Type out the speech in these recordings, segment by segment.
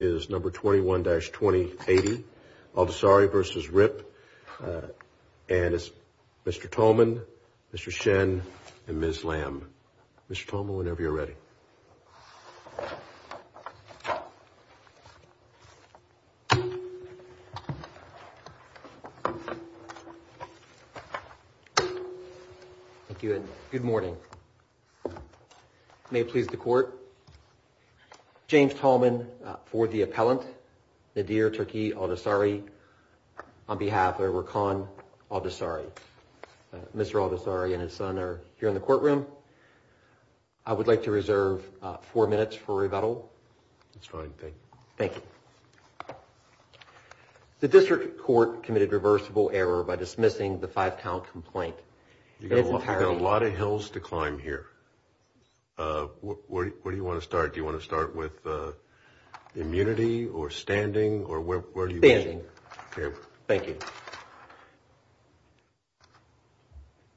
is number 21-2080 Aldossari v. Ripp. And it's Mr. Tolman, Mr. Shen and Ms. Lamb. Mr. Tolman, whenever you're ready. Thank you and good morning. May it please the court, James Tolman for the appellant, Nadir Turki Aldossari on behalf of Rakan Aldossari. Mr. Aldossari and his son are here in the courtroom. I would like to reserve four minutes for rebuttal. It's fine, thank you. Thank you. The district court committed reversible error by dismissing the five count complaint. We've got a lot of hills to climb here. Where do you want to start? Do you want to start with immunity or standing? Standing. Thank you.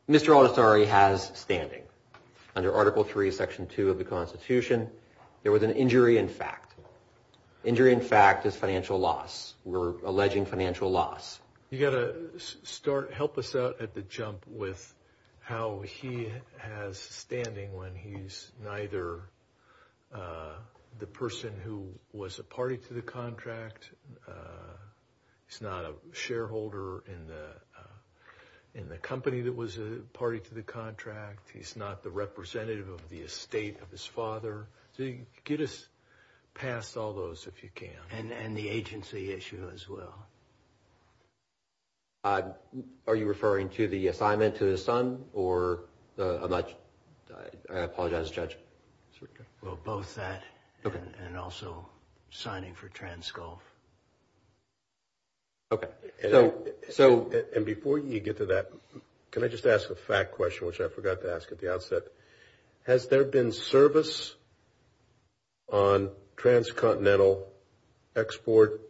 Mr. Aldossari has standing. Under Article 3, Section 2 of the Constitution, there was an injury in fact. Injury in fact is financial loss. We're alleging financial loss. You've got to help us out at the jump with how he has standing when he's neither the person who was a party to the contract, he's not a shareholder in the company that was a party to the contract, he's not the representative of the estate of his father. Get us past all those if you can. And the agency issue as well. Are you referring to the assignment to his son? I apologize, Judge. Well, both that and also signing for Transgulf. Okay. And before you get to that, can I just ask a fact question, which I forgot to ask at the outset? Has there been service on transcontinental export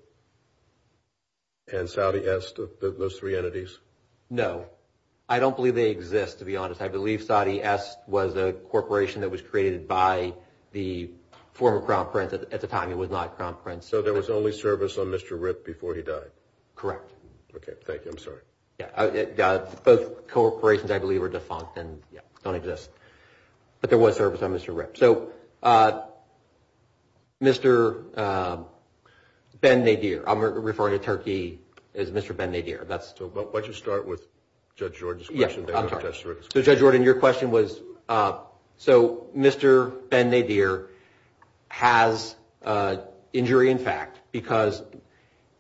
and Saudi Est, those three entities? No. I don't believe they exist, to be honest. I believe Saudi Est was a corporation that was created by the former Crown Prince. At the time it was not Crown Prince. So there was only service on Mr. Rip before he died? Correct. Okay. Thank you. I'm sorry. Both corporations I believe are defunct and don't exist. But there was service on Mr. Rip. So Mr. Ben Nadir, I'm referring to Turkey as Mr. Ben Nadir. So why don't you start with Judge Jordan's question. So Judge Jordan, your question was, so Mr. Ben Nadir has injury in fact, because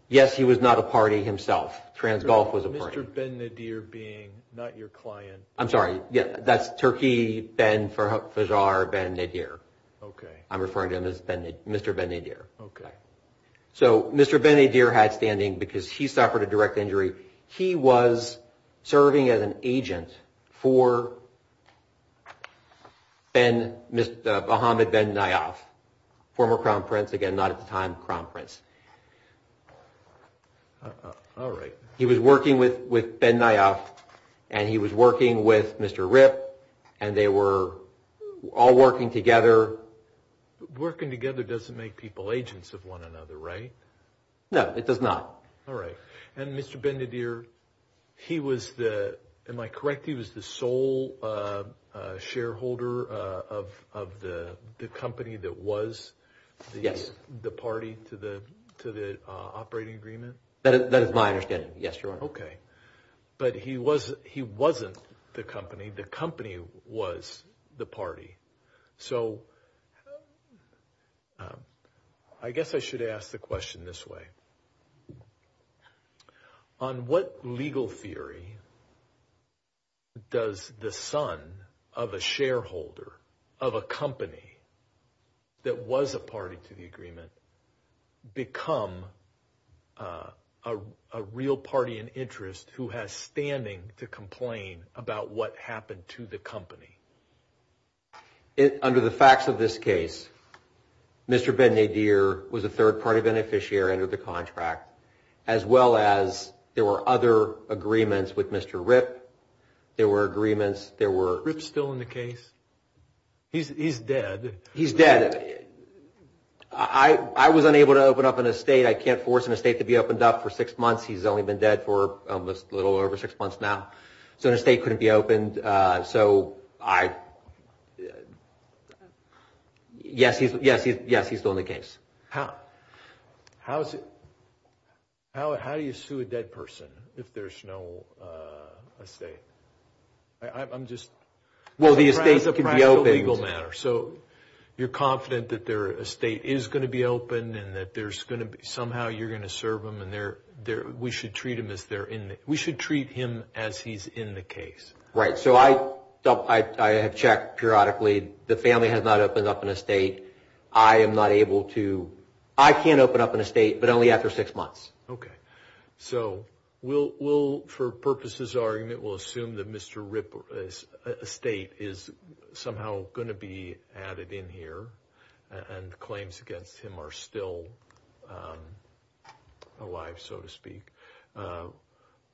yes, he was not a party himself. Transgulf was a party. Mr. Ben Nadir being not your client. I'm sorry. That's Turkey, Ben Fajar, Ben Nadir. Okay. I'm referring to him as Mr. Ben Nadir. Okay. So Mr. Ben Nadir had standing because he suffered a direct injury. He was serving as an agent for Ben, Mohammed Ben Nayaf, former Crown Prince, again not at the time Crown Prince. All right. He was working with Ben Nayaf and he was working with Mr. Rip and they were all working together. Working together doesn't make people agents of one another, right? No, it does not. All right. And Mr. Ben Nadir, he was the, am I correct, he was the sole shareholder of the company that was the party to the operating agreement? That is my understanding. Yes, Your Honor. Okay. But he wasn't the company. The company was the party. So I guess I should ask the question this way. Is there a real party in interest who has standing to complain about what happened to the company? Under the facts of this case, Mr. Ben Nadir was a third-party beneficiary under the contract as well as there were other agreements with Mr. Rip. There were agreements. Is Rip still in the case? He's dead. He's dead. I was unable to open up an estate. I can't force an estate to be opened up for six months. He's only been dead for a little over six months now. So an estate couldn't be opened. So yes, he's still in the case. How do you sue a dead person if there's no estate? Well, the estate can be opened. So you're confident that their estate is going to be opened and that somehow you're going to serve them and we should treat him as he's in the case. Right. So I have checked periodically. The family has not opened up an estate. I am not able to. I can't open up an estate, but only after six months. Okay. So we'll, for purposes of our argument, we'll assume that Mr. Rip's estate is somehow going to be added in here and claims against him are still alive, so to speak.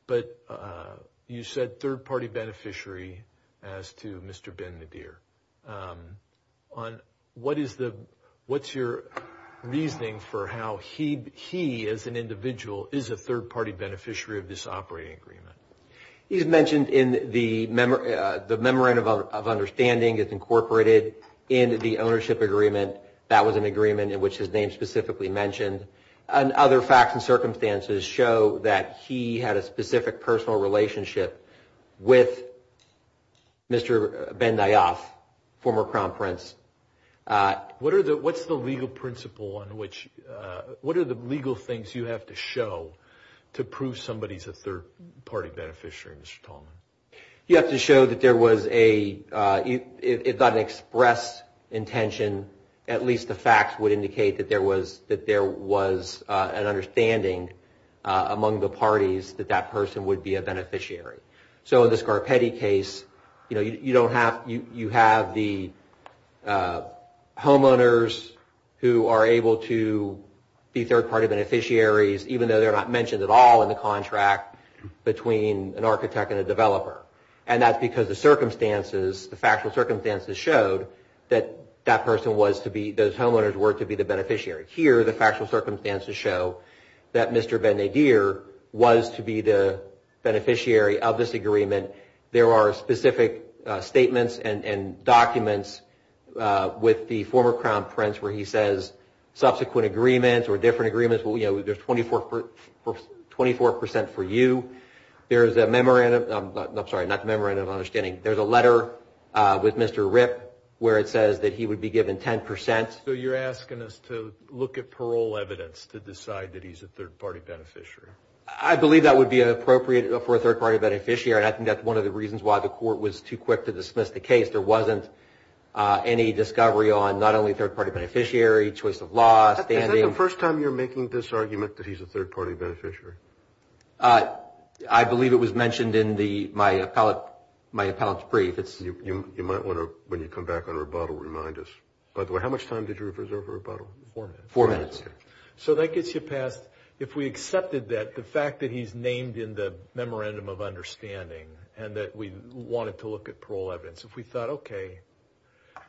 But you said third-party beneficiary as to Mr. Ben-Nadir. What's your reasoning for how he, as an individual, is a third-party beneficiary of this operating agreement? He's mentioned in the memorandum of understanding is incorporated into the ownership agreement. That was an agreement in which his name specifically mentioned. And other facts and circumstances show that he had a specific personal relationship with Mr. Ben-Nadir, former Crown Prince. What are the, what's the legal principle on which, what are the legal things you have to show to prove somebody's a third-party beneficiary, Mr. Tallman? You have to show that there was a, if not an express intention, at least the facts would indicate that there was, that there was an understanding among the parties that that person would be a beneficiary. So in the Scarpetti case, you know, you don't have, you have the homeowners who are able to be third-party beneficiaries even though they're not mentioned at all in the contract between an architect and a developer. And that's because the circumstances, the factual circumstances showed that that person was to be, those homeowners were to be the beneficiary. Here, the factual circumstances show that Mr. Ben-Nadir was to be the beneficiary of this agreement. There are specific statements and documents with the former Crown Prince where he says subsequent agreements or different agreements, you know, there's 24 percent for you. There's a memorandum, I'm sorry, not memorandum of understanding. There's a letter with Mr. Ripp where it says that he would be given 10 percent. So you're asking us to look at parole evidence to decide that he's a third-party beneficiary? I believe that would be appropriate for a third-party beneficiary, and I think that's one of the reasons why the court was too quick to dismiss the case. There wasn't any discovery on not only third-party beneficiary, choice of law, standing. Is that the first time you're making this argument that he's a third-party beneficiary? I believe it was mentioned in the, my appellate, my appellate's brief. You might want to, when you come back on rebuttal, remind us. By the way, how much time did you reserve for rebuttal? Four minutes. Four minutes. So that gets you past, if we accepted that, the fact that he's named in the memorandum of understanding and that we wanted to look at parole evidence. If we thought, okay,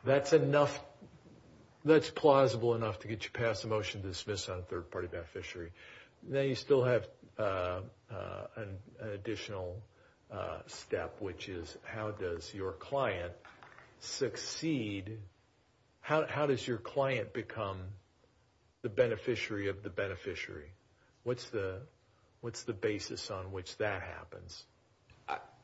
that's enough, that's plausible enough to get you past the motion to dismiss on third-party beneficiary, then you still have an additional step, which is how does your client succeed, how does your client become the beneficiary of the beneficiary? What's the basis on which that happens?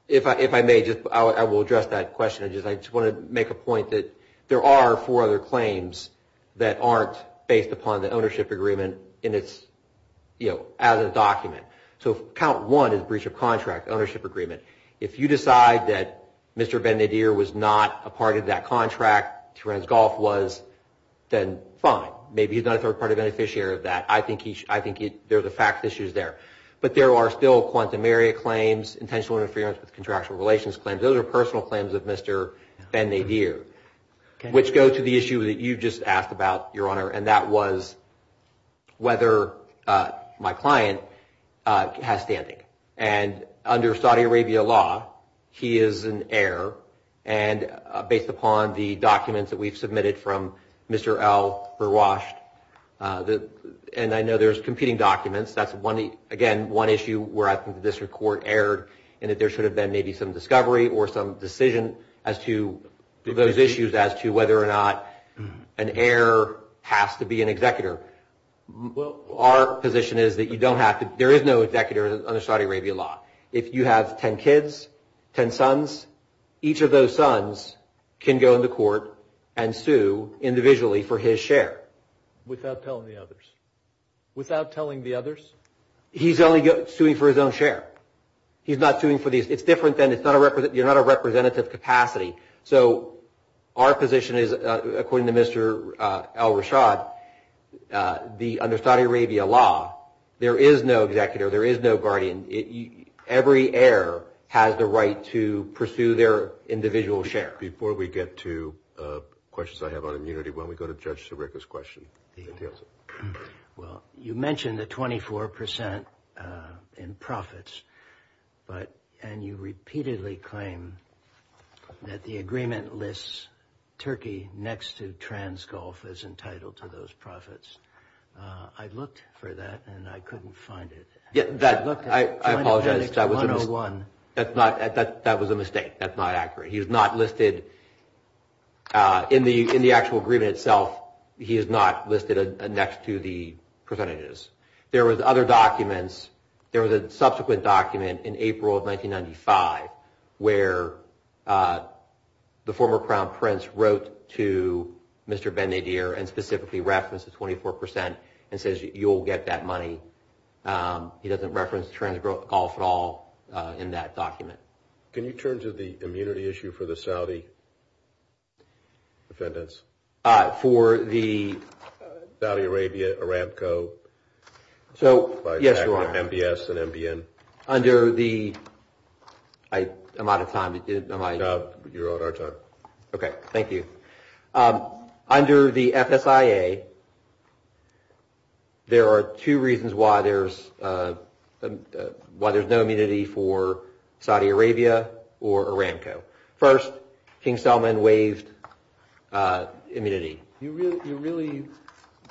If I may, I will address that question. I just want to make a point that there are four other claims that aren't based upon the ownership agreement as a document. So count one is breach of contract, ownership agreement. If you decide that Mr. Ben-Nadir was not a part of that contract, Terence Goff was, then fine. Maybe he's not a third-party beneficiary of that. I think there's a fact issue there. But there are still quantum area claims, intentional interference with contractual relations claims. Those are personal claims of Mr. Ben-Nadir, which go to the issue that you just asked about, Your Honor, and that was whether my client has standing. And under Saudi Arabia law, he is an heir. And based upon the documents that we've submitted from Mr. El Berwashed, and I know there's competing documents. That's, again, one issue where I think the district court erred in that there should have been maybe some discovery or some decision as to those issues as to whether or not an heir has to be an executor. Our position is that you don't have to. There is no executor under Saudi Arabia law. If you have ten kids, ten sons, each of those sons can go into court and sue individually for his share. Without telling the others? Without telling the others? He's only suing for his own share. He's not suing for these. It's different than you're not a representative capacity. So our position is, according to Mr. El Berwashed, under Saudi Arabia law, there is no executor. There is no guardian. Every heir has the right to pursue their individual share. Before we get to questions I have on immunity, why don't we go to Judge Sirica's question. Well, you mentioned the 24 percent in profits, and you repeatedly claim that the agreement lists Turkey next to Transgulf as entitled to those profits. I looked for that, and I couldn't find it. I apologize, that was a mistake. That was a mistake. That's not accurate. He is not listed in the actual agreement itself. He is not listed next to the percentages. There was other documents. There was a subsequent document in April of 1995 where the former Crown Prince wrote to Mr. Ben-Nadir and specifically referenced the 24 percent and says you'll get that money. He doesn't reference Transgulf at all in that document. Can you turn to the immunity issue for the Saudi defendants? For the? Saudi Arabia, Aramco. So, yes, you're on. MBS and MBN. Under the, I'm out of time. You're on our time. Okay, thank you. Under the FSIA, there are two reasons why there's no immunity for Saudi Arabia or Aramco. First, King Selman waived immunity. You really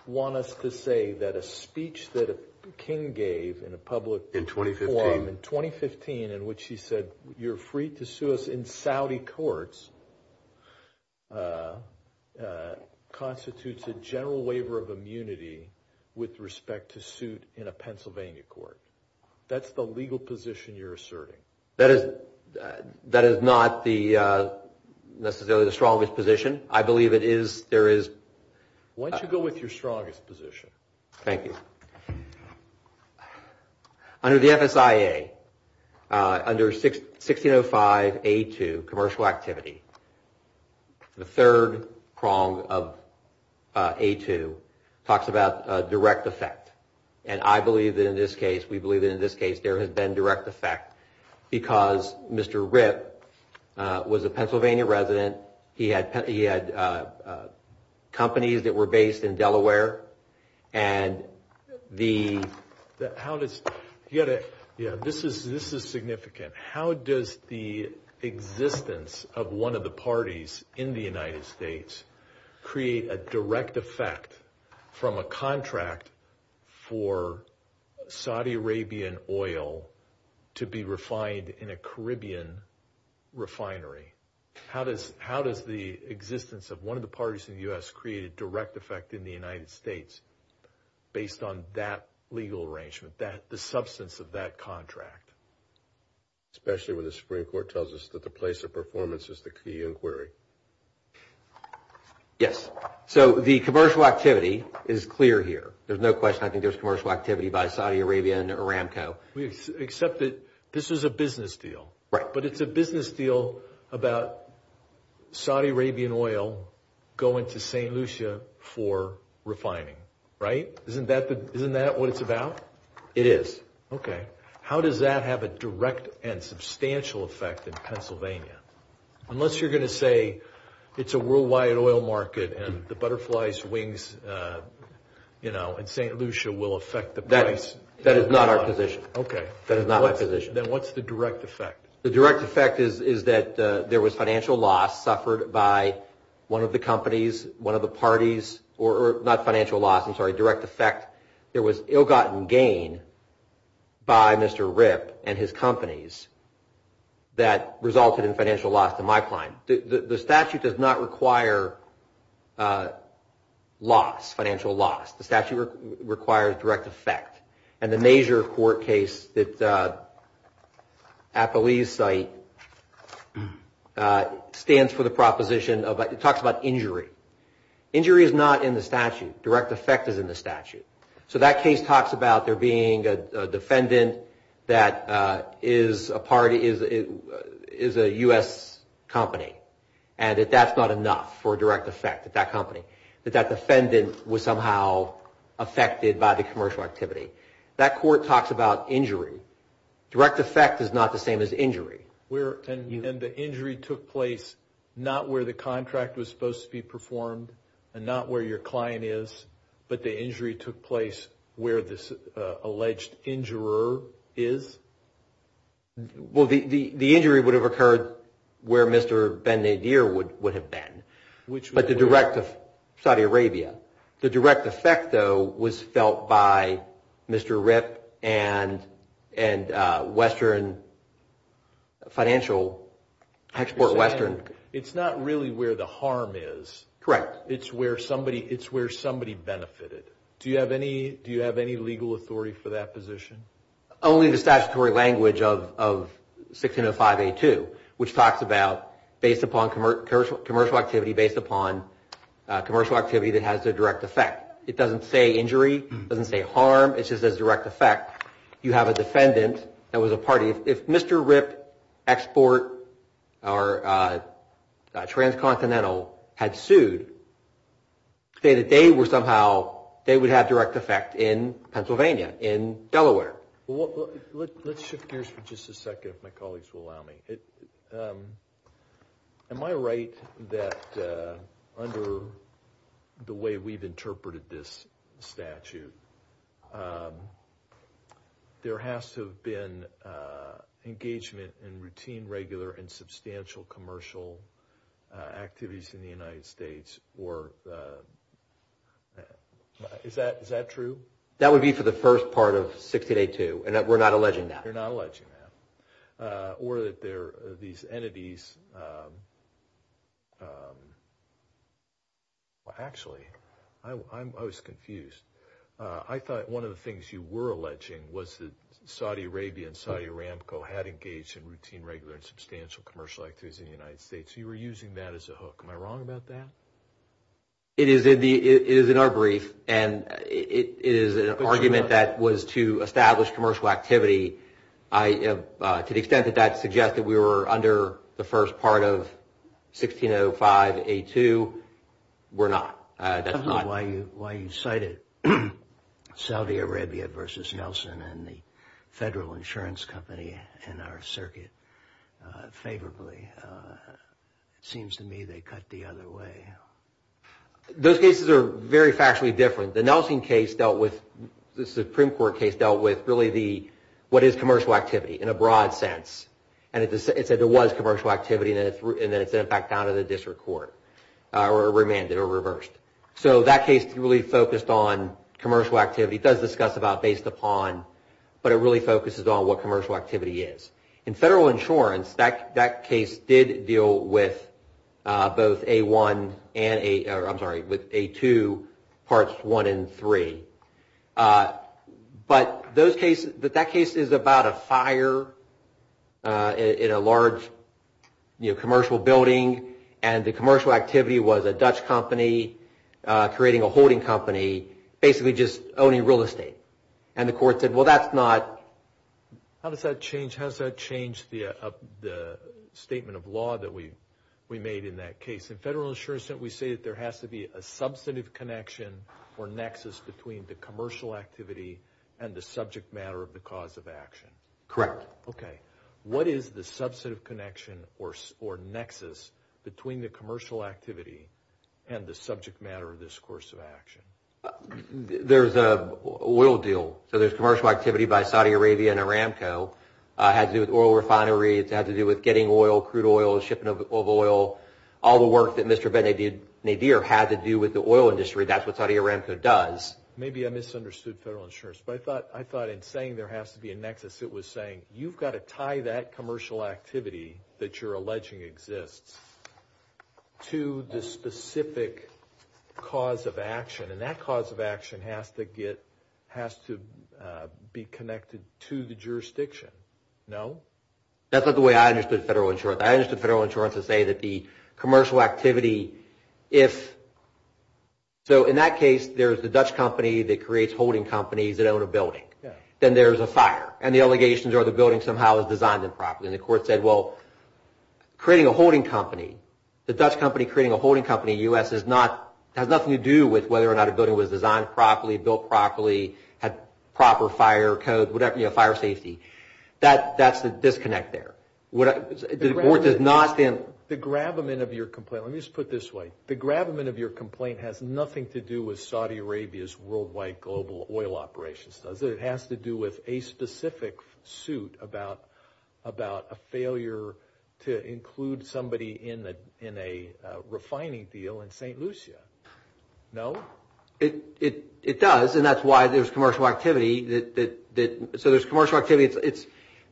want us to say that a speech that King gave in a public forum in 2015 in which he said you're free to sue us in Saudi courts constitutes a general waiver of immunity with respect to suit in a Pennsylvania court. That's the legal position you're asserting. That is not necessarily the strongest position. I believe it is, there is. Why don't you go with your strongest position? Thank you. Under the FSIA, under 1605A2, commercial activity, the third prong of A2 talks about direct effect. And I believe that in this case, we believe that in this case, there has been direct effect because Mr. Ripp was a Pennsylvania resident. He had companies that were based in Delaware. And the... How does... Yeah, this is significant. How does the existence of one of the parties in the United States create a direct effect from a contract for Saudi Arabian oil to be refined in a Caribbean refinery? How does the existence of one of the parties in the U.S. create a direct effect in the United States based on that legal arrangement, the substance of that contract? Especially when the Supreme Court tells us that the place of performance is the key inquiry. Yes. So the commercial activity is clear here. There's no question I think there's commercial activity by Saudi Arabian Aramco. Except that this is a business deal. Right. But it's a business deal about Saudi Arabian oil going to St. Lucia for refining, right? Isn't that what it's about? It is. Okay. How does that have a direct and substantial effect in Pennsylvania? Unless you're going to say it's a worldwide oil market and the butterfly's wings, you know, in St. Lucia will affect the price. That is not our position. Okay. That is not my position. Then what's the direct effect? The direct effect is that there was financial loss suffered by one of the companies, one of the parties, or not financial loss, I'm sorry, direct effect. There was ill-gotten gain by Mr. Ripp and his companies that resulted in financial loss to my client. The statute does not require loss, financial loss. The statute requires direct effect. And the major court case at the Lee's site stands for the proposition of, it talks about injury. Injury is not in the statute. Direct effect is in the statute. So that case talks about there being a defendant that is a party, is a U.S. company. And that that's not enough for direct effect at that company. That that defendant was somehow affected by the commercial activity. That court talks about injury. Direct effect is not the same as injury. And the injury took place not where the contract was supposed to be performed and not where your client is, but the injury took place where this alleged injurer is? Well, the injury would have occurred where Mr. Ben-Nadir would have been. But the direct, Saudi Arabia. The direct effect, though, was felt by Mr. Ripp and Western Financial Export, Western. It's not really where the harm is. Correct. It's where somebody benefited. Do you have any legal authority for that position? Only the statutory language of 1605A2, which talks about based upon commercial activity, based upon commercial activity that has a direct effect. It doesn't say injury. It doesn't say harm. It just says direct effect. You have a defendant that was a party. If Mr. Ripp, Export, or Transcontinental had sued, they would have direct effect in Pennsylvania, in Delaware. Let's shift gears for just a second, if my colleagues will allow me. Am I right that under the way we've interpreted this statute, there has to have been engagement in routine, regular, and substantial commercial activities in the United States, or is that true? That would be for the first part of 1608A2, and we're not alleging that. You're not alleging that. Or that there are these entities. Actually, I was confused. I thought one of the things you were alleging was that Saudi Arabia and Saudi Aramco had engaged in routine, regular, and substantial commercial activities in the United States. You were using that as a hook. Am I wrong about that? It is in our brief, and it is an argument that was to establish commercial activity. To the extent that that suggests that we were under the first part of 1605A2, we're not. I don't know why you cited Saudi Arabia versus Nelson and the federal insurance company in our circuit favorably. It seems to me they cut the other way. Those cases are very factually different. The Nelson case dealt with, the Supreme Court case dealt with really what is commercial activity in a broad sense, and it said there was commercial activity, and then it sent it back down to the district court, or remanded, or reversed. So that case really focused on commercial activity. It does discuss about based upon, but it really focuses on what commercial activity is. In federal insurance, that case did deal with both A1 and A, I'm sorry, with A2 parts 1 and 3. But that case is about a fire in a large commercial building, and the commercial activity was a Dutch company creating a holding company, basically just owning real estate. And the court said, well, that's not. How does that change the statement of law that we made in that case? In federal insurance, we say that there has to be a substantive connection or nexus between the commercial activity and the subject matter of the cause of action. Correct. Okay. What is the substantive connection or nexus between the commercial activity and the subject matter of this course of action? There's an oil deal. So there's commercial activity by Saudi Arabia and Aramco. It had to do with oil refineries. It had to do with getting oil, crude oil, shipping of oil, all the work that Mr. Ben-Nadir had to do with the oil industry. That's what Saudi Aramco does. Maybe I misunderstood federal insurance, but I thought in saying there has to be a nexus, it was saying you've got to tie that commercial activity that you're alleging exists to the specific cause of action. And that cause of action has to be connected to the jurisdiction. No? That's not the way I understood federal insurance. I understood federal insurance to say that the commercial activity, if, so in that case there's the Dutch company that creates holding companies that own a building. Then there's a fire. And the allegations are the building somehow is designed improperly. And the court said, well, creating a holding company, the Dutch company creating a holding company in the U.S. has nothing to do with whether or not a building was designed properly, built properly, had proper fire code, fire safety. That's the disconnect there. The court does not stand. The gravamen of your complaint, let me just put it this way. The gravamen of your complaint has nothing to do with Saudi Arabia's worldwide global oil operations, does it? It has to do with a specific suit about a failure to include somebody in a refining deal in St. Lucia. No? It does. And that's why there's commercial activity that, so there's commercial activity.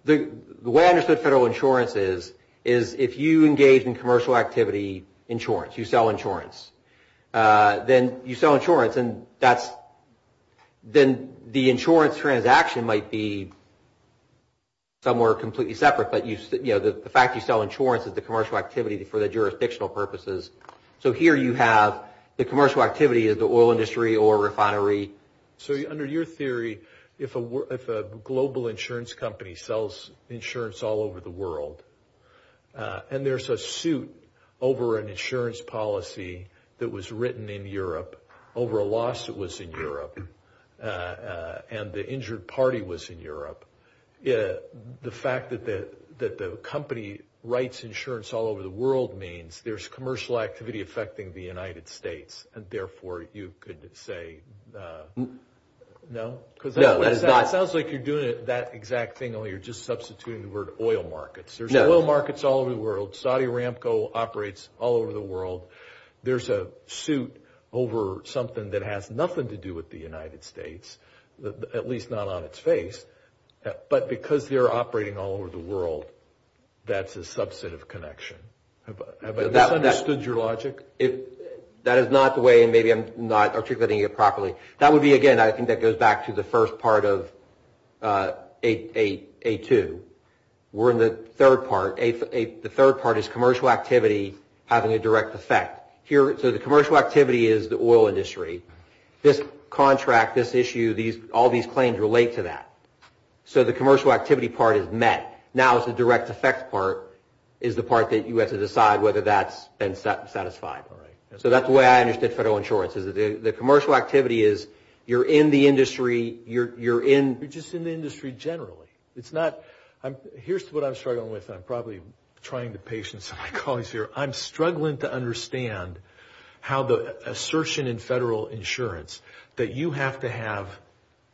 The way I understood federal insurance is, is if you engage in commercial activity insurance, you sell insurance, then you sell insurance and that's, then the insurance transaction might be somewhere completely separate. But, you know, the fact you sell insurance is the commercial activity for the jurisdictional purposes. So here you have the commercial activity is the oil industry or refinery. So under your theory, if a global insurance company sells insurance all over the world and there's a suit over an insurance policy that was written in Europe, over a lawsuit that was in Europe, and the injured party was in Europe, the fact that the company writes insurance all over the world means there's commercial activity affecting the United States and therefore you could say no? No. It sounds like you're doing that exact thing, only you're just substituting the word oil markets. There's oil markets all over the world. Saudi Aramco operates all over the world. There's a suit over something that has nothing to do with the United States, at least not on its face. But because they're operating all over the world, that's a subset of connection. Have I misunderstood your logic? That is not the way and maybe I'm not articulating it properly. That would be, again, I think that goes back to the first part of A2. We're in the third part. The third part is commercial activity having a direct effect. So the commercial activity is the oil industry. This contract, this issue, all these claims relate to that. So the commercial activity part is met. Now the direct effect part is the part that you have to decide whether that's been satisfied. So that's the way I understood federal insurance. The commercial activity is you're in the industry. You're just in the industry generally. Here's what I'm struggling with. I'm probably trying to patience my colleagues here. I'm struggling to understand how the assertion in federal insurance that you have to have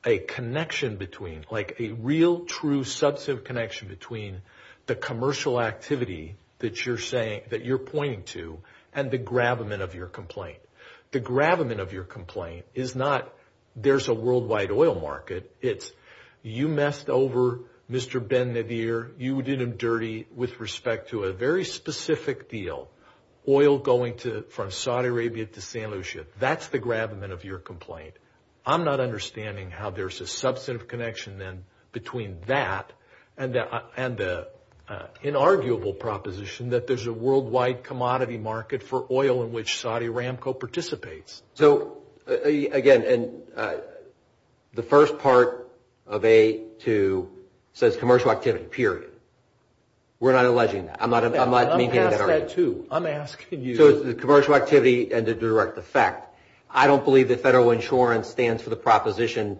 a connection between, like a real, true, substantive connection between the commercial activity that you're pointing to and the gravamen of your complaint. The gravamen of your complaint is not there's a worldwide oil market. It's you messed over Mr. Ben Nadir. You did him dirty with respect to a very specific deal, oil going from Saudi Arabia to San Lucia. That's the gravamen of your complaint. I'm not understanding how there's a substantive connection then between that and the inarguable proposition that there's a worldwide commodity market for oil in which Saudi Aramco participates. So again, the first part of A to says commercial activity, period. We're not alleging that. I'm not maintaining that argument. I'm asking you. So it's the commercial activity and the direct effect. I don't believe that federal insurance stands for the proposition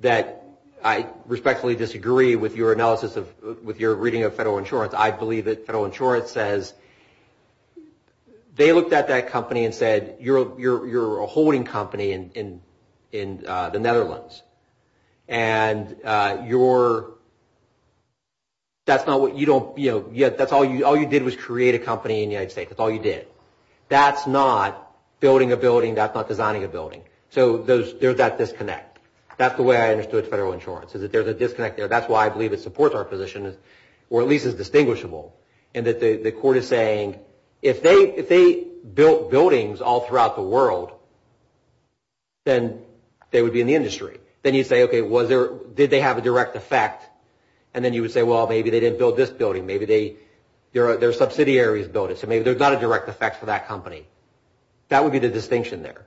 that I respectfully disagree with your analysis of, with your reading of federal insurance. I believe that federal insurance says they looked at that company and said you're a holding company in the Netherlands. And you're, that's not what, you don't, you know, that's all you did was create a company in the United States. That's all you did. That's not building a building. That's not designing a building. So there's that disconnect. That's the way I understood federal insurance is that there's a disconnect there. That's why I believe it supports our position or at least is distinguishable in that the court is saying if they built buildings all throughout the world, then they would be in the industry. Then you say, okay, was there, did they have a direct effect? And then you would say, well, maybe they didn't build this building. Maybe they, their subsidiaries built it. So maybe there's not a direct effect for that company. That would be the distinction there.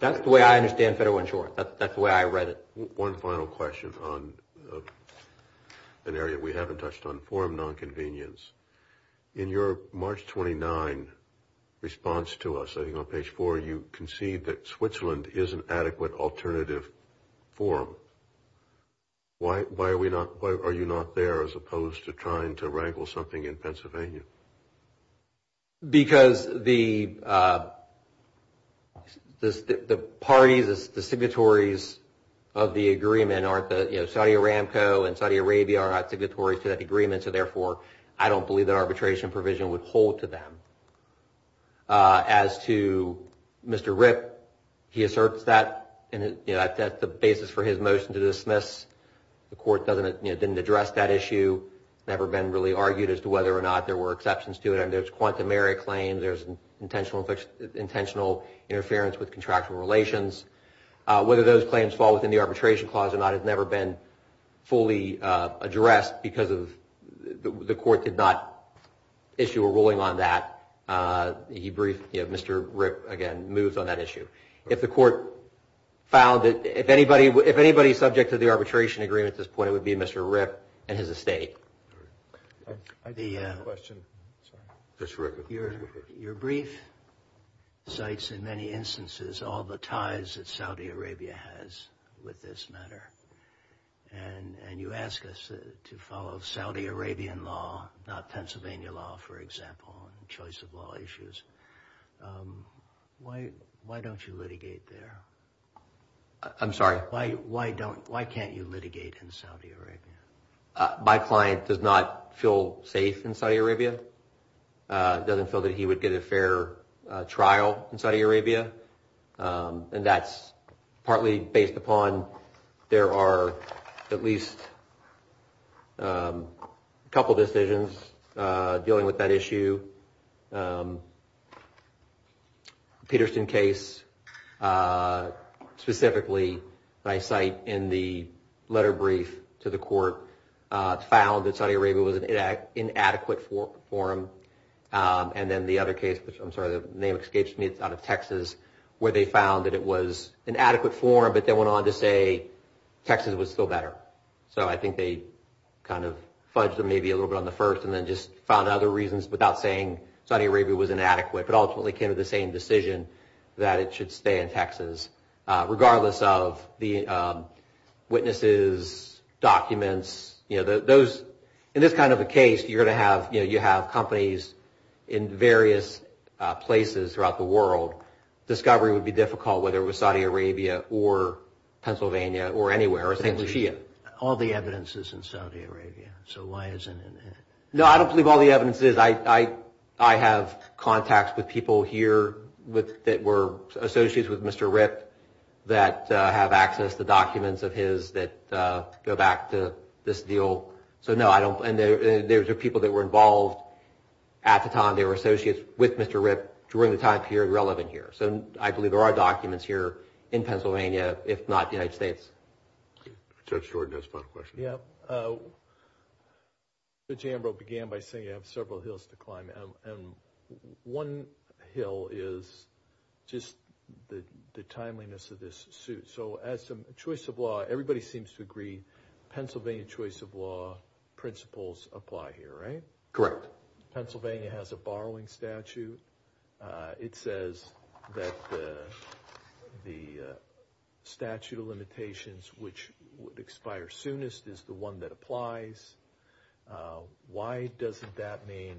That's the way I understand federal insurance. That's the way I read it. One final question on an area we haven't touched on, form nonconvenience. In your March 29 response to us, I think on page four, you concede that Switzerland is an adequate alternative form. Why are we not, why are you not there as opposed to trying to wrangle something in Pennsylvania? Because the parties, the signatories of the agreement aren't the, you know, Saudi Aramco and Saudi Arabia are not signatories to that agreement, so therefore I don't believe that arbitration provision would hold to them. As to Mr. Ripp, he asserts that, you know, that's the basis for his motion to dismiss. The court doesn't, you know, didn't address that issue. It's never been really argued as to whether or not there were exceptions to it. I mean, there's quantumary claims. There's intentional interference with contractual relations. Whether those claims fall within the arbitration clause or not has never been fully addressed because the court did not issue a ruling on that. He briefed, you know, Mr. Ripp, again, moves on that issue. If the court found that, if anybody is subject to the arbitration agreement at this point, it would be Mr. Ripp and his estate. Your brief cites in many instances all the ties that Saudi Arabia has with this matter, and you ask us to follow Saudi Arabian law, not Pennsylvania law, for example, and choice of law issues. Why don't you litigate there? I'm sorry? Why can't you litigate in Saudi Arabia? My client does not feel safe in Saudi Arabia, doesn't feel that he would get a fair trial in Saudi Arabia, and that's partly based upon there are at least a couple decisions dealing with that issue. The Peterson case specifically that I cite in the letter brief to the court found that Saudi Arabia was an inadequate forum, and then the other case, I'm sorry, the name escapes me, it's out of Texas, where they found that it was an adequate forum, but they went on to say Texas was still better. So I think they kind of fudged them maybe a little bit on the first and then just found other reasons without saying Saudi Arabia was inadequate, but ultimately came to the same decision that it should stay in Texas, regardless of the witnesses, documents. In this kind of a case, you have companies in various places throughout the world. Discovery would be difficult whether it was Saudi Arabia or Pennsylvania or anywhere. All the evidence is in Saudi Arabia, so why isn't it? No, I don't believe all the evidence is. I have contacts with people here that were associates with Mr. Ripp that have access to documents of his that go back to this deal. So no, I don't, and there were people that were involved at the time, they were associates with Mr. Ripp during the time period relevant here. So I believe there are documents here in Pennsylvania, if not the United States. Judge Jordan has a final question. The jamboree began by saying you have several hills to climb, and one hill is just the timeliness of this suit. So as a choice of law, everybody seems to agree, Pennsylvania choice of law principles apply here, right? Correct. Pennsylvania has a borrowing statute. It says that the statute of limitations, which would expire soonest, is the one that applies. Why doesn't that mean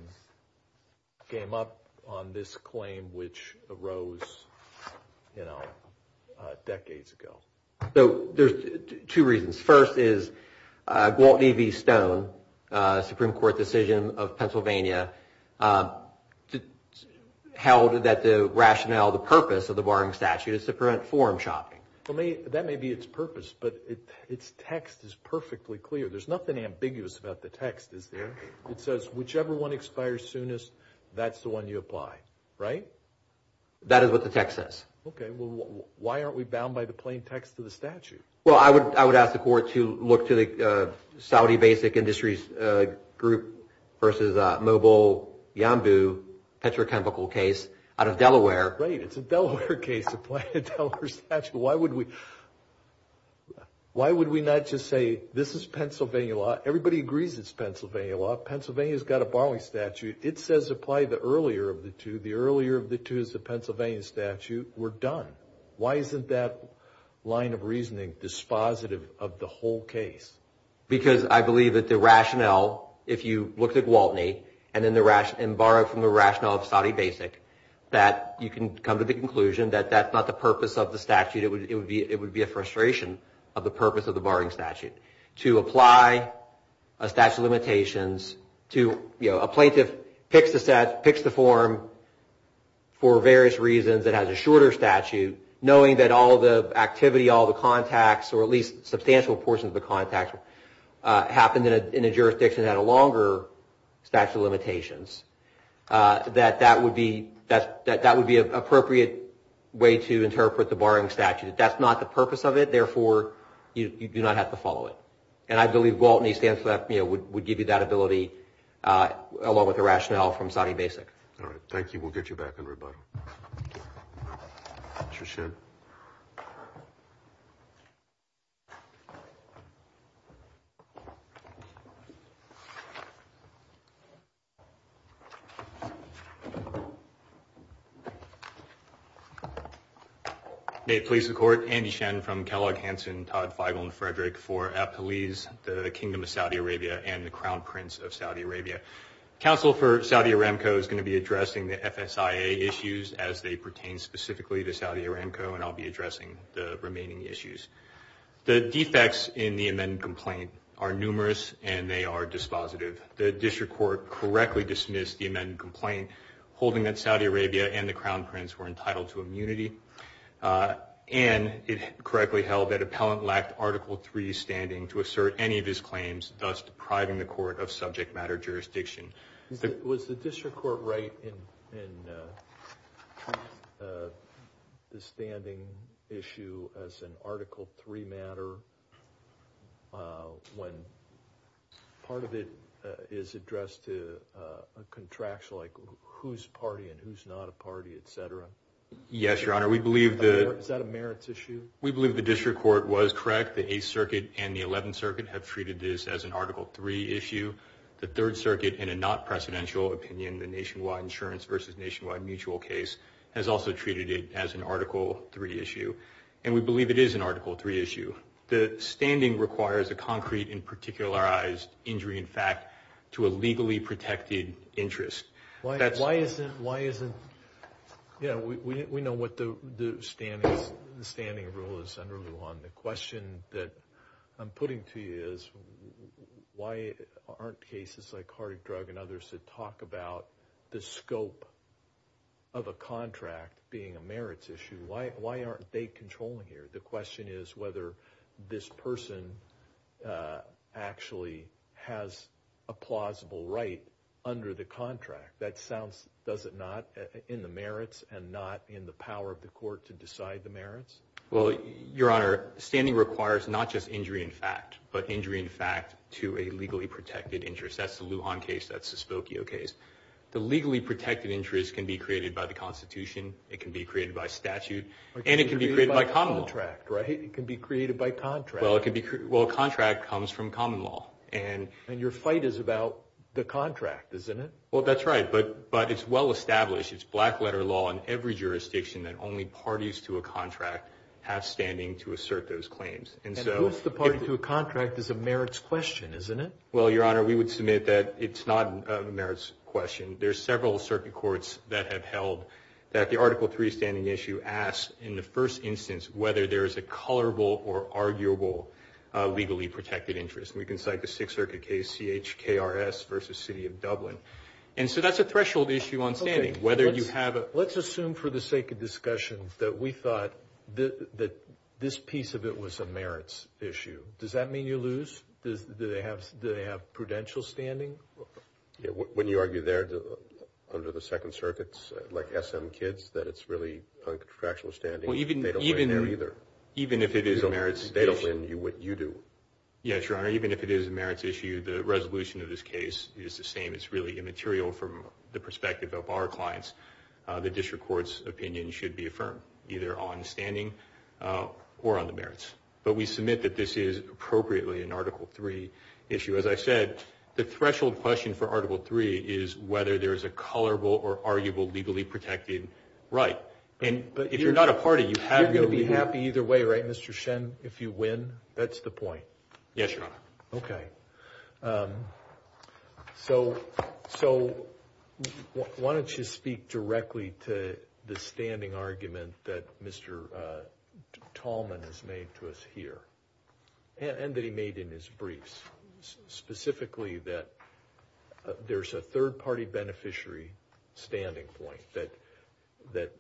game up on this claim which arose, you know, decades ago? So there's two reasons. First is Gwaltney v. Stone, Supreme Court decision of Pennsylvania, held that the rationale, the purpose of the borrowing statute is to prevent forum shopping. That may be its purpose, but its text is perfectly clear. There's nothing ambiguous about the text, is there? It says whichever one expires soonest, that's the one you apply, right? That is what the text says. Okay. Well, why aren't we bound by the plain text of the statute? Well, I would ask the court to look to the Saudi basic industries group versus Mobile Yambu petrochemical case out of Delaware. Right. It's a Delaware case to apply a Delaware statute. Why would we not just say this is Pennsylvania law? Everybody agrees it's Pennsylvania law. Pennsylvania's got a borrowing statute. It says apply the earlier of the two. The earlier of the two is the Pennsylvania statute. We're done. Why isn't that line of reasoning dispositive of the whole case? Because I believe that the rationale, if you look at Gwaltney and borrow from the rationale of Saudi basic, that you can come to the conclusion that that's not the purpose of the statute. It would be a frustration of the purpose of the borrowing statute. To apply a statute of limitations to, you know, a plaintiff picks the form for various reasons that has a shorter statute, knowing that all the activity, all the contacts, or at least substantial portions of the contacts happened in a jurisdiction that had a longer statute of limitations, that that would be an appropriate way to interpret the borrowing statute. That's not the purpose of it. Therefore, you do not have to follow it. And I believe Gwaltney would give you that ability, along with the rationale from Saudi basic. All right. Thank you. We'll get you back in rebuttal. Thank you. Mr. Shedd. May it please the Court, Andy Shen from Kellogg Hanson, Todd Feigl and Frederick for Apalese, the Kingdom of Saudi Arabia, and the Crown Prince of Saudi Arabia. Counsel for Saudi Aramco is going to be addressing the FSIA issues as they pertain specifically to Saudi Aramco, and I'll be addressing the remaining issues. The defects in the amended complaint are numerous, and they are dispositive. The district court correctly dismissed the amended complaint, holding that Saudi Arabia and the Crown Prince were entitled to immunity, and it correctly held that appellant lacked Article III standing to assert any of Was the district court right in the standing issue as an Article III matter, when part of it is addressed to a contraction like who's party and who's not a party, et cetera? Yes, Your Honor. Is that a merits issue? We believe the district court was correct. The 8th Circuit and the 11th Circuit have treated this as an Article III issue. The 3rd Circuit, in a not-presidential opinion, the nationwide insurance versus nationwide mutual case, has also treated it as an Article III issue, and we believe it is an Article III issue. The standing requires a concrete and particularized injury in fact to a legally protected interest. Why isn't – yeah, we know what the standing rule is under Lujan. The question that I'm putting to you is why aren't cases like heart drug and others that talk about the scope of a contract being a merits issue? Why aren't they controlling here? The question is whether this person actually has a plausible right under the contract. That sounds – does it not in the merits and not in the power of the court to decide the merits? Well, Your Honor, standing requires not just injury in fact, but injury in fact to a legally protected interest. That's the Lujan case. That's the Spokio case. The legally protected interest can be created by the Constitution. It can be created by statute. And it can be created by common law. It can be created by contract, right? It can be created by contract. Well, contract comes from common law. And your fight is about the contract, isn't it? Well, that's right. But it's well established. It's black letter law in every jurisdiction that only parties to a contract have standing to assert those claims. And who's the party to a contract is a merits question, isn't it? Well, Your Honor, we would submit that it's not a merits question. There are several circuit courts that have held that the Article III standing issue asks in the first instance whether there is a colorable or arguable legally protected interest. And we can cite the Sixth Circuit case, CHKRS versus City of Dublin. And so that's a threshold issue on standing, whether you have it. Let's assume for the sake of discussion that we thought that this piece of it was a merits issue. Does that mean you lose? Do they have prudential standing? Wouldn't you argue there under the Second Circuit, like SM Kids, that it's really a threshold standing? They don't win there either. Even if it is a merits issue. They don't win. You do. Yes, Your Honor, even if it is a merits issue, the resolution of this case is the same. It's really immaterial from the perspective of our clients. The district court's opinion should be affirmed, either on standing or on the merits. But we submit that this is appropriately an Article III issue. As I said, the threshold question for Article III is whether there is a colorable or arguable legally protected right. But if you're not a party, you have to be happy. You're going to be happy either way, right, Mr. Shen, if you win? That's the point. Yes, Your Honor. Okay. So why don't you speak directly to the standing argument that Mr. Tallman has made to us here, and that he made in his briefs, specifically that there's a third-party beneficiary standing point, that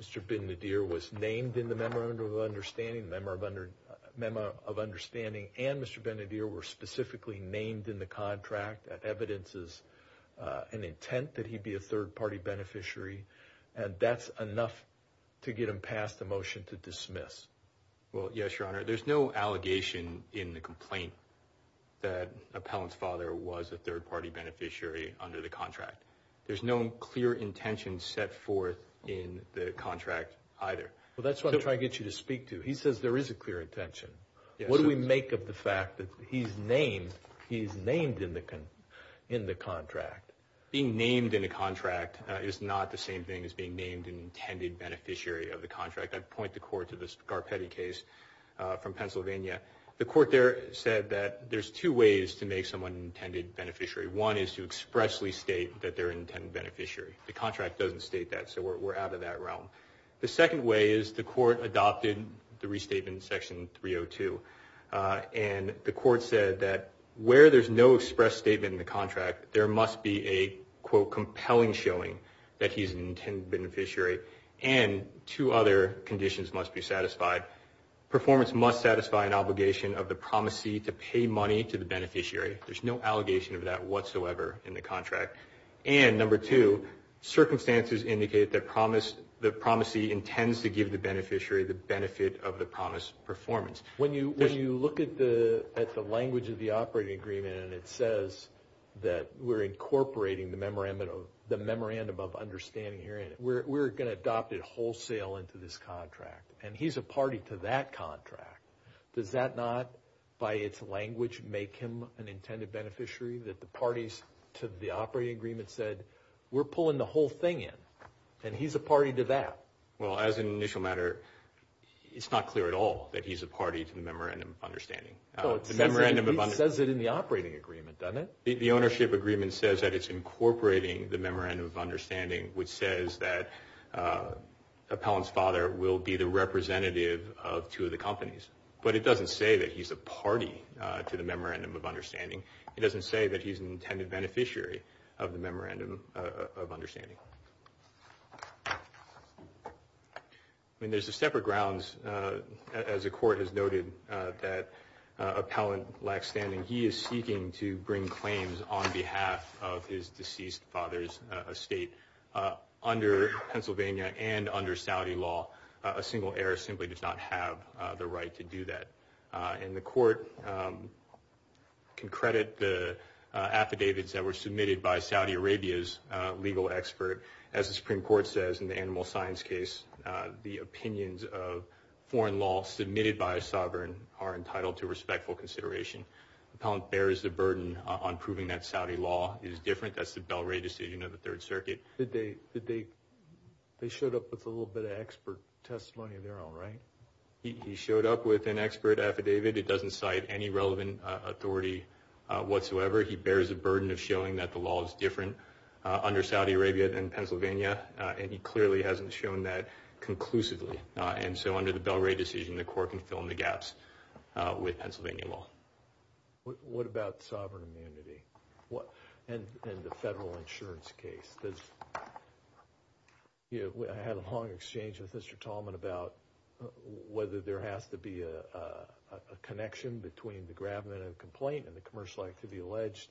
Mr. Bin-Nadir was named in the Memorandum of Understanding, Memo of Understanding, and Mr. Bin-Nadir were specifically named in the contract. That evidence is an intent that he be a third-party beneficiary, and that's enough to get him passed the motion to dismiss. Well, yes, Your Honor. There's no allegation in the complaint that Appellant's father was a third-party beneficiary under the contract. There's no clear intention set forth in the contract either. Well, that's what I'm trying to get you to speak to. He says there is a clear intention. What do we make of the fact that he's named in the contract? Being named in a contract is not the same thing as being named an intended beneficiary of the contract. I'd point the Court to this Garpetti case from Pennsylvania. The Court there said that there's two ways to make someone an intended beneficiary. One is to expressly state that they're an intended beneficiary. The contract doesn't state that, so we're out of that realm. The second way is the Court adopted the restatement in Section 302, and the Court said that where there's no express statement in the contract, there must be a, quote, compelling showing that he's an intended beneficiary, and two other conditions must be satisfied. Performance must satisfy an obligation of the promisee to pay money to the beneficiary. There's no allegation of that whatsoever in the contract. And, number two, circumstances indicate that the promisee intends to give the beneficiary the benefit of the promised performance. When you look at the language of the operating agreement and it says that we're incorporating the memorandum of understanding here, we're going to adopt it wholesale into this contract, and he's a party to that contract. Does that not, by its language, make him an intended beneficiary, that the parties to the operating agreement said, we're pulling the whole thing in, and he's a party to that? Well, as an initial matter, it's not clear at all that he's a party to the memorandum of understanding. No, it says it in the operating agreement, doesn't it? The ownership agreement says that it's incorporating the memorandum of understanding, which says that Appellant's father will be the representative of two of the companies. But it doesn't say that he's a party to the memorandum of understanding. It doesn't say that he's an intended beneficiary of the memorandum of understanding. I mean, there's a separate grounds, as the court has noted, that Appellant lacks standing. He is seeking to bring claims on behalf of his deceased father's estate. Under Pennsylvania and under Saudi law, a single heir simply does not have the right to do that. And the court can credit the affidavits that were submitted by Saudi Arabia's legal expert. As the Supreme Court says in the animal science case, the opinions of foreign law submitted by a sovereign are entitled to respectful consideration. Appellant bears the burden on proving that Saudi law is different. That's the Belray decision of the Third Circuit. They showed up with a little bit of expert testimony of their own, right? He showed up with an expert affidavit. It doesn't cite any relevant authority whatsoever. He bears the burden of showing that the law is different under Saudi Arabia than Pennsylvania. And he clearly hasn't shown that conclusively. And so under the Belray decision, the court can fill in the gaps with Pennsylvania law. What about sovereign immunity and the federal insurance case? I had a long exchange with Mr. Tallman about whether there has to be a connection between the grabment and complaint and the commercial activity alleged.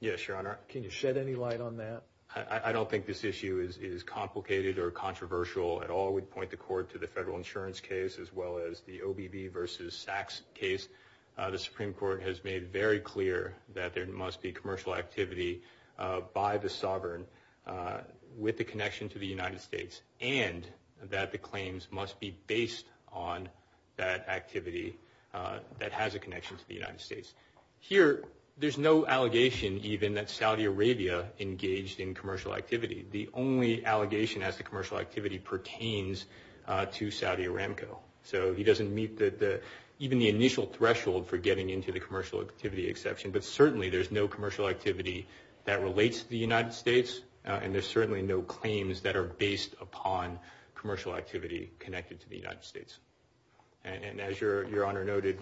Yes, Your Honor. Can you shed any light on that? I don't think this issue is complicated or controversial at all. We'd point the court to the federal insurance case, as well as the OBB versus Sachs case. The Supreme Court has made very clear that there must be commercial activity by the sovereign with a connection to the United States, and that the claims must be based on that activity that has a connection to the United States. Here, there's no allegation, even, that Saudi Arabia engaged in commercial activity. The only allegation as to commercial activity pertains to Saudi Aramco. So he doesn't meet even the initial threshold for getting into the commercial activity exception. But certainly there's no commercial activity that relates to the United States, and there's certainly no claims that are based upon commercial activity connected to the United States. And as Your Honor noted,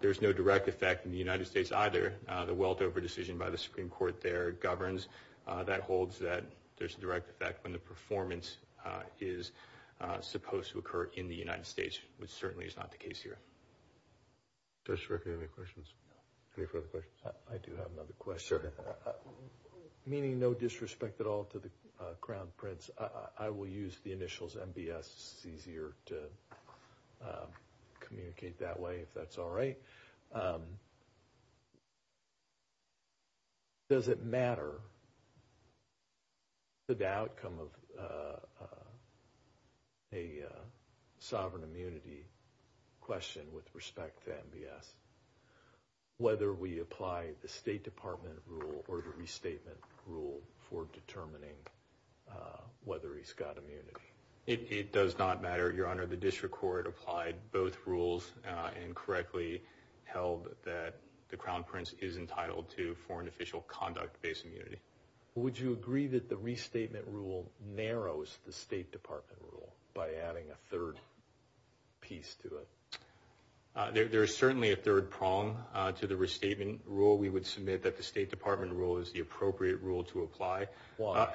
there's no direct effect in the United States either. The Weltover decision by the Supreme Court there governs that holds that there's a direct effect when the performance is supposed to occur in the United States, which certainly is not the case here. Does the Director have any questions? Any further questions? I do have another question. Sure. Meaning no disrespect at all to the Crown Prince, I will use the initials MBS. It's easier to communicate that way if that's all right. Does it matter to the outcome of a sovereign immunity question with respect to MBS whether we apply the State Department rule or the restatement rule for determining whether he's got immunity? Your Honor, the District Court applied both rules and correctly held that the Crown Prince is entitled to foreign official conduct-based immunity. Would you agree that the restatement rule narrows the State Department rule by adding a third piece to it? There is certainly a third prong to the restatement rule. We would submit that the State Department rule is the appropriate rule to apply. Why?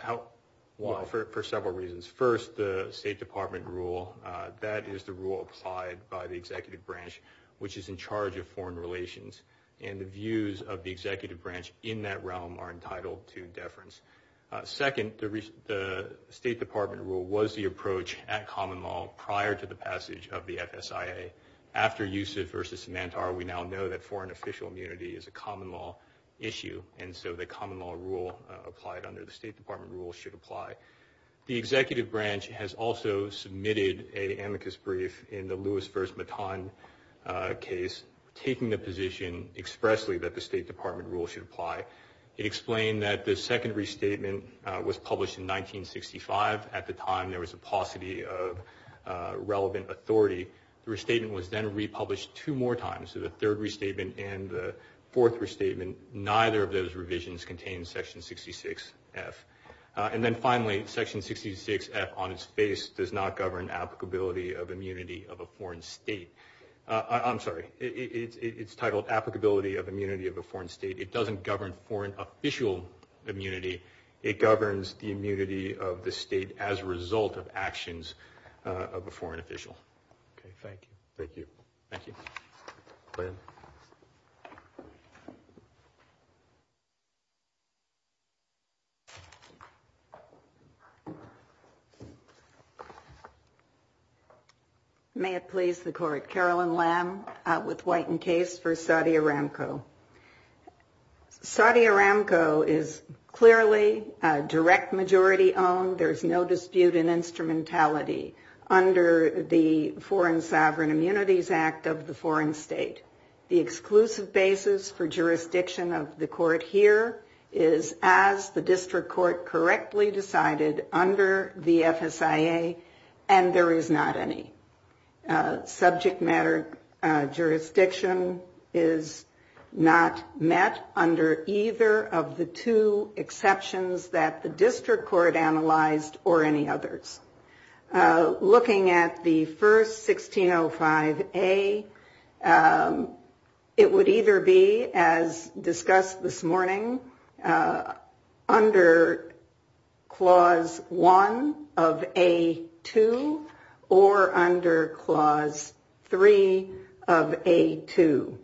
For several reasons. First, the State Department rule, that is the rule applied by the Executive Branch, which is in charge of foreign relations. And the views of the Executive Branch in that realm are entitled to deference. Second, the State Department rule was the approach at common law prior to the passage of the FSIA. After Youssef versus Samantar, we now know that foreign official immunity is a common law issue, and so the common law rule applied under the State Department rule should apply. The Executive Branch has also submitted an amicus brief in the Lewis versus Matan case, taking the position expressly that the State Department rule should apply. It explained that the second restatement was published in 1965. At the time, there was a paucity of relevant authority. The restatement was then republished two more times. So the third restatement and the fourth restatement, neither of those revisions contain Section 66F. And then finally, Section 66F, on its face, does not govern applicability of immunity of a foreign state. I'm sorry, it's titled Applicability of Immunity of a Foreign State. It doesn't govern foreign official immunity. It governs the immunity of the state as a result of actions of a foreign official. Okay, thank you. Thank you. Thank you. Go ahead. May it please the Court. Carolyn Lamb with White and Case for Saudi Aramco. Saudi Aramco is clearly a direct majority-owned. There's no dispute in instrumentality. under the Foreign Sovereign Immunities Act of the foreign state. The exclusive basis for jurisdiction of the court here is, as the district court correctly decided, under the FSIA, and there is not any. Subject matter jurisdiction is not met under either of the two exceptions that the district court analyzed or any others. Looking at the first, 1605A, it would either be, as discussed this morning, under Clause 1 of A2, or under Clause 3 of A2.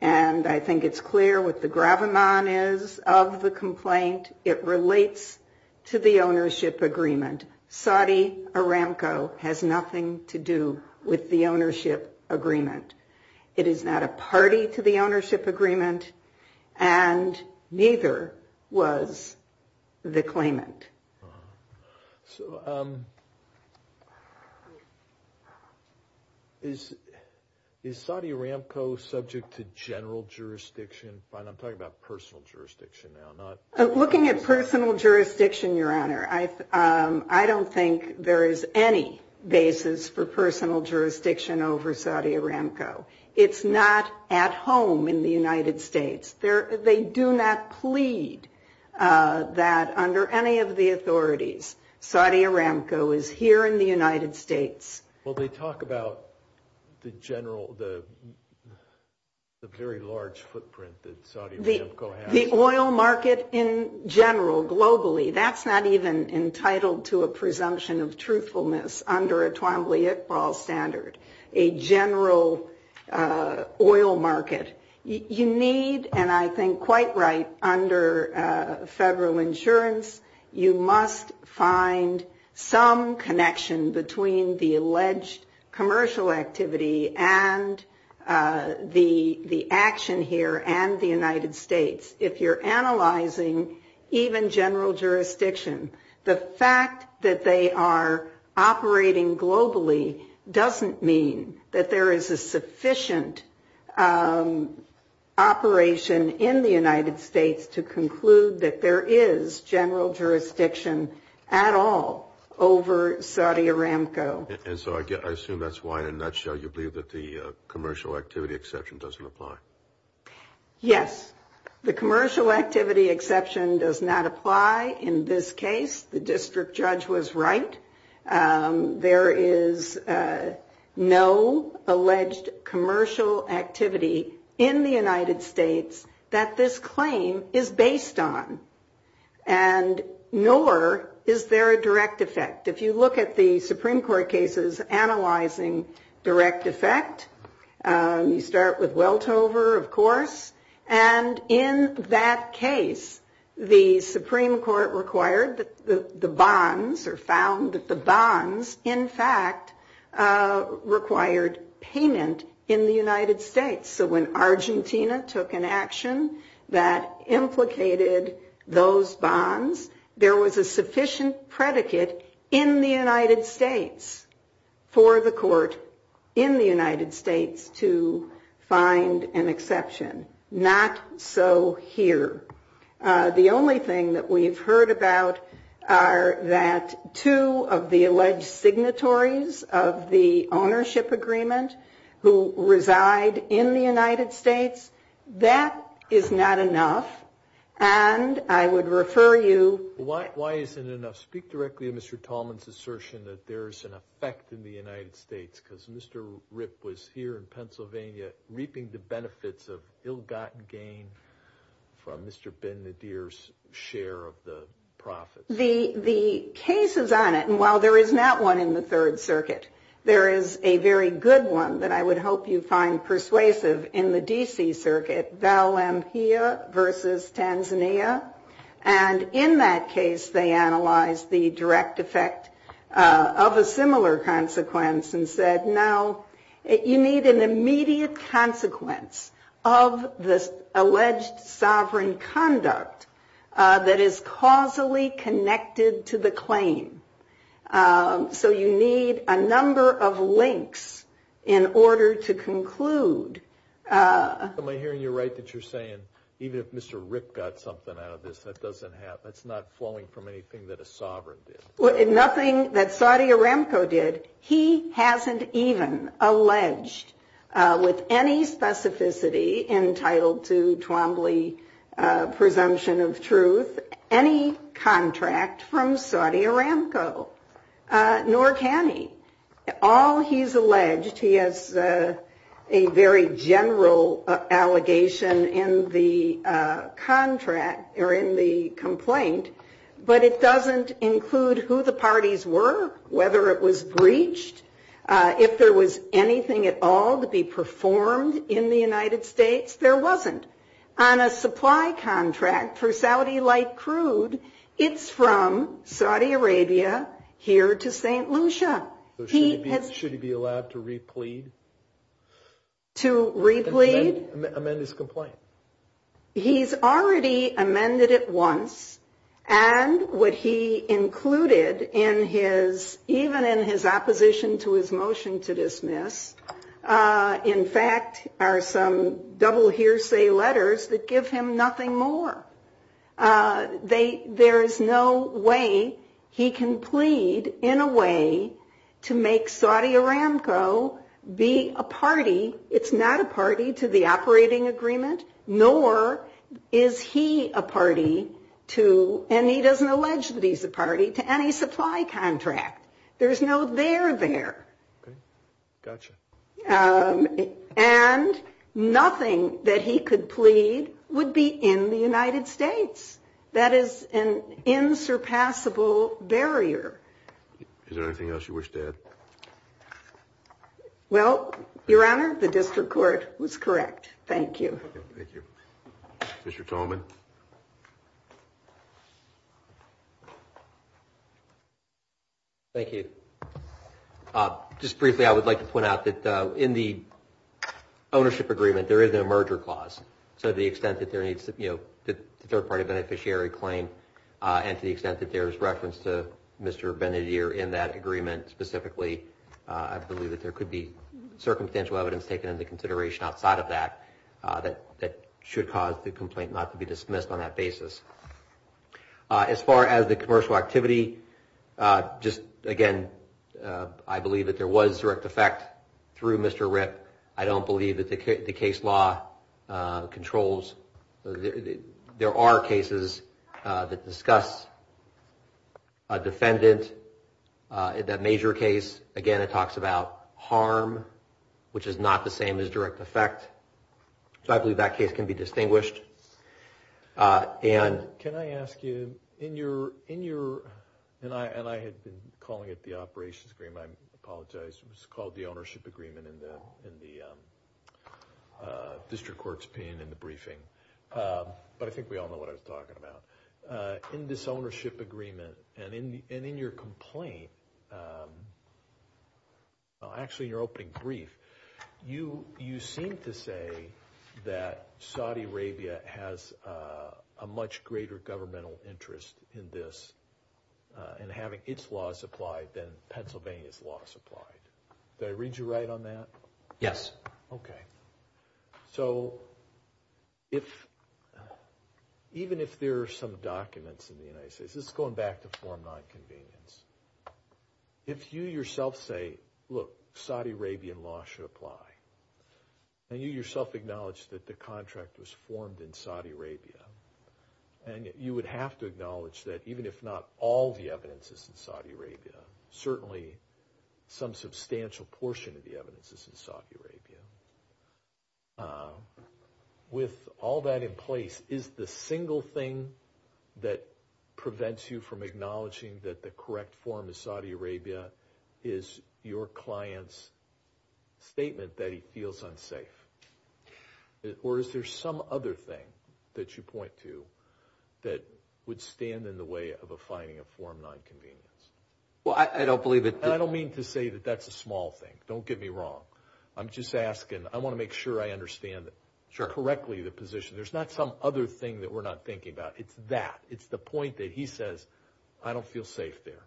And I think it's clear what the gravamon is of the complaint. It relates to the ownership agreement. Saudi Aramco has nothing to do with the ownership agreement. It is not a party to the ownership agreement, and neither was the claimant. So is Saudi Aramco subject to general jurisdiction? I'm talking about personal jurisdiction now. Looking at personal jurisdiction, Your Honor, I don't think there is any basis for personal jurisdiction over Saudi Aramco. It's not at home in the United States. They do not plead that under any of the authorities, Saudi Aramco is here in the United States. Well, they talk about the general, the very large footprint that Saudi Aramco has. The oil market in general, globally, that's not even entitled to a presumption of truthfulness under a Twombly-Iqbal standard, a general oil market. You need, and I think quite right, under federal insurance, you must find some connection between the alleged commercial activity and the action here and the United States. If you're analyzing even general jurisdiction, the fact that they are operating globally doesn't mean that there is a sufficient operation in the United States to conclude that there is general jurisdiction at all over Saudi Aramco. And so I assume that's why, in a nutshell, you believe that the commercial activity exception doesn't apply. Yes. The commercial activity exception does not apply in this case. The district judge was right. There is no alleged commercial activity in the United States that this claim is based on, and nor is there a direct effect. If you look at the Supreme Court cases analyzing direct effect, you start with Weltover, of course, and in that case the Supreme Court required that the bonds, or found that the bonds, in fact, required payment in the United States. So when Argentina took an action that implicated those bonds, there was a sufficient predicate in the United States for the court in the United States to find an exception. Not so here. The only thing that we've heard about are that two of the alleged signatories of the ownership agreement who reside in the United States, that is not enough, and I would refer you to... Why isn't enough? Speak directly to Mr. Tallman's assertion that there is an effect in the United States, because Mr. Ripp was here in Pennsylvania reaping the benefits of ill-gotten gain from Mr. Ben-Nadir's share of the profits. The cases on it, and while there is not one in the Third Circuit, there is a very good one that I would hope you find persuasive in the D.C. Circuit, Valampilla v. Tanzania. And in that case, they analyzed the direct effect of a similar consequence and said, no, you need an immediate consequence of this alleged sovereign conduct that is causally connected to the claim. So you need a number of links in order to conclude... Am I hearing you right that you're saying even if Mr. Ripp got something out of this, that's not flowing from anything that a sovereign did? Nothing that Saudi Aramco did. He hasn't even alleged, with any specificity entitled to Twombly presumption of truth, any contract from Saudi Aramco, nor can he. All he's alleged, he has a very general allegation in the contract or in the complaint, but it doesn't include who the parties were, whether it was breached, if there was anything at all to be performed in the United States. There wasn't. On a supply contract for Saudi Light Crude, it's from Saudi Arabia here to St. Lucia. Should he be allowed to replead? To replead? Amend his complaint. He's already amended it once, and what he included, even in his opposition to his motion to dismiss, in fact, are some double hearsay letters that give him nothing more. There is no way he can plead in a way to make Saudi Aramco be a party. It's not a party to the operating agreement, nor is he a party to, and he doesn't allege that he's a party, to any supply contract. There's no there there. Okay. Gotcha. And nothing that he could plead would be in the United States. That is an insurpassable barrier. Is there anything else you wish to add? Well, Your Honor, the district court was correct. Thank you. Thank you. Mr. Tolman. Mr. Tolman. Thank you. Just briefly, I would like to point out that in the ownership agreement, there is no merger clause. So to the extent that there is a third-party beneficiary claim and to the extent that there is reference to Mr. Ben-Adir in that agreement specifically, I believe that there could be circumstantial evidence taken into consideration outside of that that should cause the complaint not to be dismissed on that basis. As far as the commercial activity, just again, I believe that there was direct effect through Mr. Ripp. I don't believe that the case law controls. There are cases that discuss a defendant in that major case. Again, it talks about harm, which is not the same as direct effect. So I believe that case can be distinguished. Can I ask you, and I had been calling it the operations agreement. I apologize. It was called the ownership agreement in the district court's opinion in the briefing. But I think we all know what I was talking about. In this ownership agreement and in your complaint, actually in your opening brief, you seem to say that Saudi Arabia has a much greater governmental interest in this and having its laws applied than Pennsylvania's laws applied. Did I read you right on that? Yes. Okay. So even if there are some documents in the United States, this is going back to form nonconvenience. If you yourself say, look, Saudi Arabian law should apply, and you yourself acknowledge that the contract was formed in Saudi Arabia, and you would have to acknowledge that even if not all the evidence is in Saudi Arabia, certainly some substantial portion of the evidence is in Saudi Arabia, with all that in place, is the single thing that prevents you from acknowledging that the correct form is Saudi Arabia is your client's statement that he feels unsafe? Or is there some other thing that you point to that would stand in the way of a finding of form nonconvenience? Well, I don't believe that. And I don't mean to say that that's a small thing. Don't get me wrong. I'm just asking. I want to make sure I understand correctly the position. There's not some other thing that we're not thinking about. It's that. It's the point that he says, I don't feel safe there.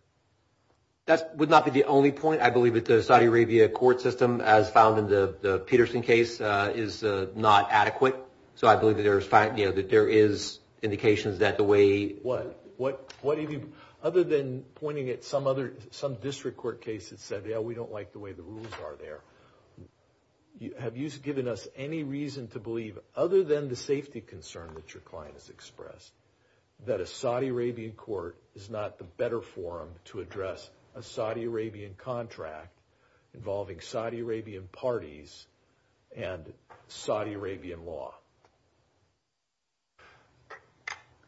That would not be the only point. I believe that the Saudi Arabia court system, as found in the Peterson case, is not adequate. So I believe that there is indications that the way— What? Other than pointing at some district court case that said, yeah, we don't like the way the rules are there, have you given us any reason to believe, other than the safety concern that your client has expressed, that a Saudi Arabian court is not the better forum to address a Saudi Arabian contract involving Saudi Arabian parties and Saudi Arabian law?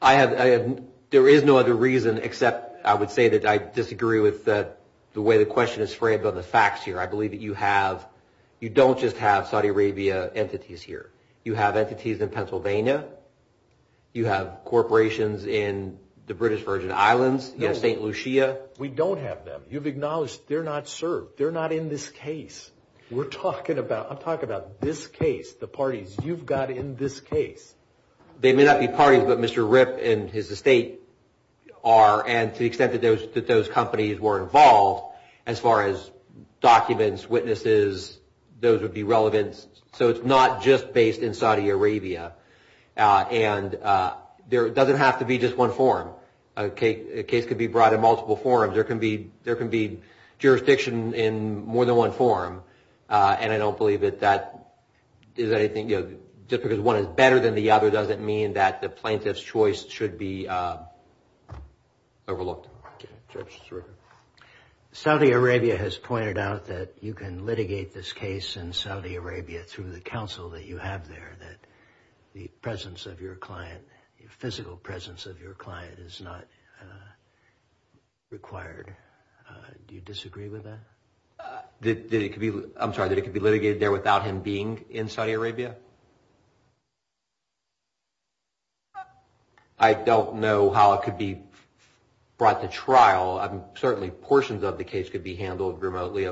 There is no other reason except I would say that I disagree with the way the question is framed on the facts here. I believe that you don't just have Saudi Arabia entities here. You have entities in Pennsylvania. You have corporations in the British Virgin Islands. You have St. Lucia. We don't have them. You've acknowledged they're not served. They're not in this case. We're talking about—I'm talking about this case, the parties. You've got in this case. They may not be parties, but Mr. Ripp and his estate are, and to the extent that those companies were involved, as far as documents, witnesses, those would be relevant. So it's not just based in Saudi Arabia. And there doesn't have to be just one forum. A case could be brought in multiple forums. There can be jurisdiction in more than one forum, and I don't believe that that is anything—just because one is better than the other doesn't mean that the plaintiff's choice should be overlooked. Saudi Arabia has pointed out that you can litigate this case in Saudi Arabia through the counsel that you have there, that the presence of your client, physical presence of your client is not required. Do you disagree with that? I'm sorry, that it could be litigated there without him being in Saudi Arabia? I don't know how it could be brought to trial. Certainly portions of the case could be handled remotely.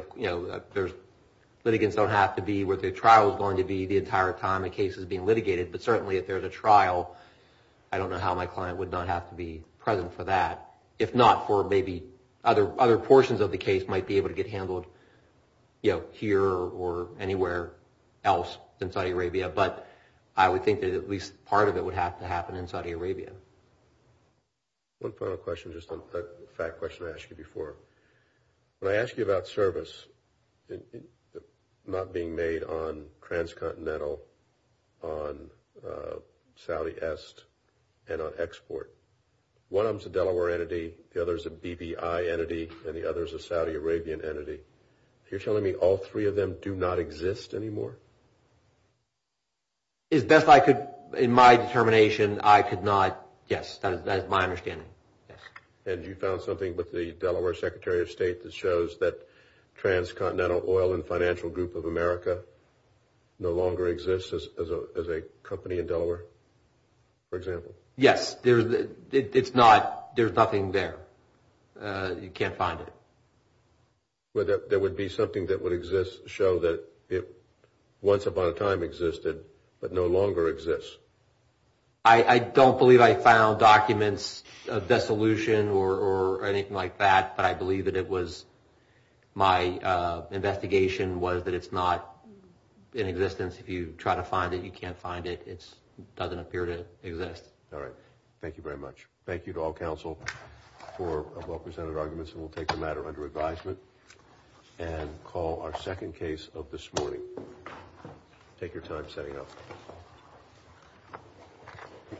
Litigants don't have to be where the trial is going to be the entire time the case is being litigated, but certainly if there's a trial, I don't know how my client would not have to be present for that, if not for maybe other portions of the case might be able to get handled here or anywhere else in Saudi Arabia. But I would think that at least part of it would have to happen in Saudi Arabia. One final question, just a fact question I asked you before. When I asked you about service not being made on transcontinental, on Saudi Est, and on export, one of them is a Delaware entity, the other is a BBI entity, and the other is a Saudi Arabian entity. You're telling me all three of them do not exist anymore? As best I could, in my determination, I could not, yes, that is my understanding. And you found something with the Delaware Secretary of State that shows that transcontinental oil and financial group of America no longer exists as a company in Delaware, for example? Yes, it's not, there's nothing there. You can't find it. There would be something that would show that it once upon a time existed, but no longer exists? I don't believe I found documents of dissolution or anything like that, but I believe that it was my investigation was that it's not in existence. If you try to find it, you can't find it. It doesn't appear to exist. All right. Thank you very much. Thank you to all counsel for well-presented arguments, and we'll take the matter under advisement and call our second case of this morning. Take your time setting up.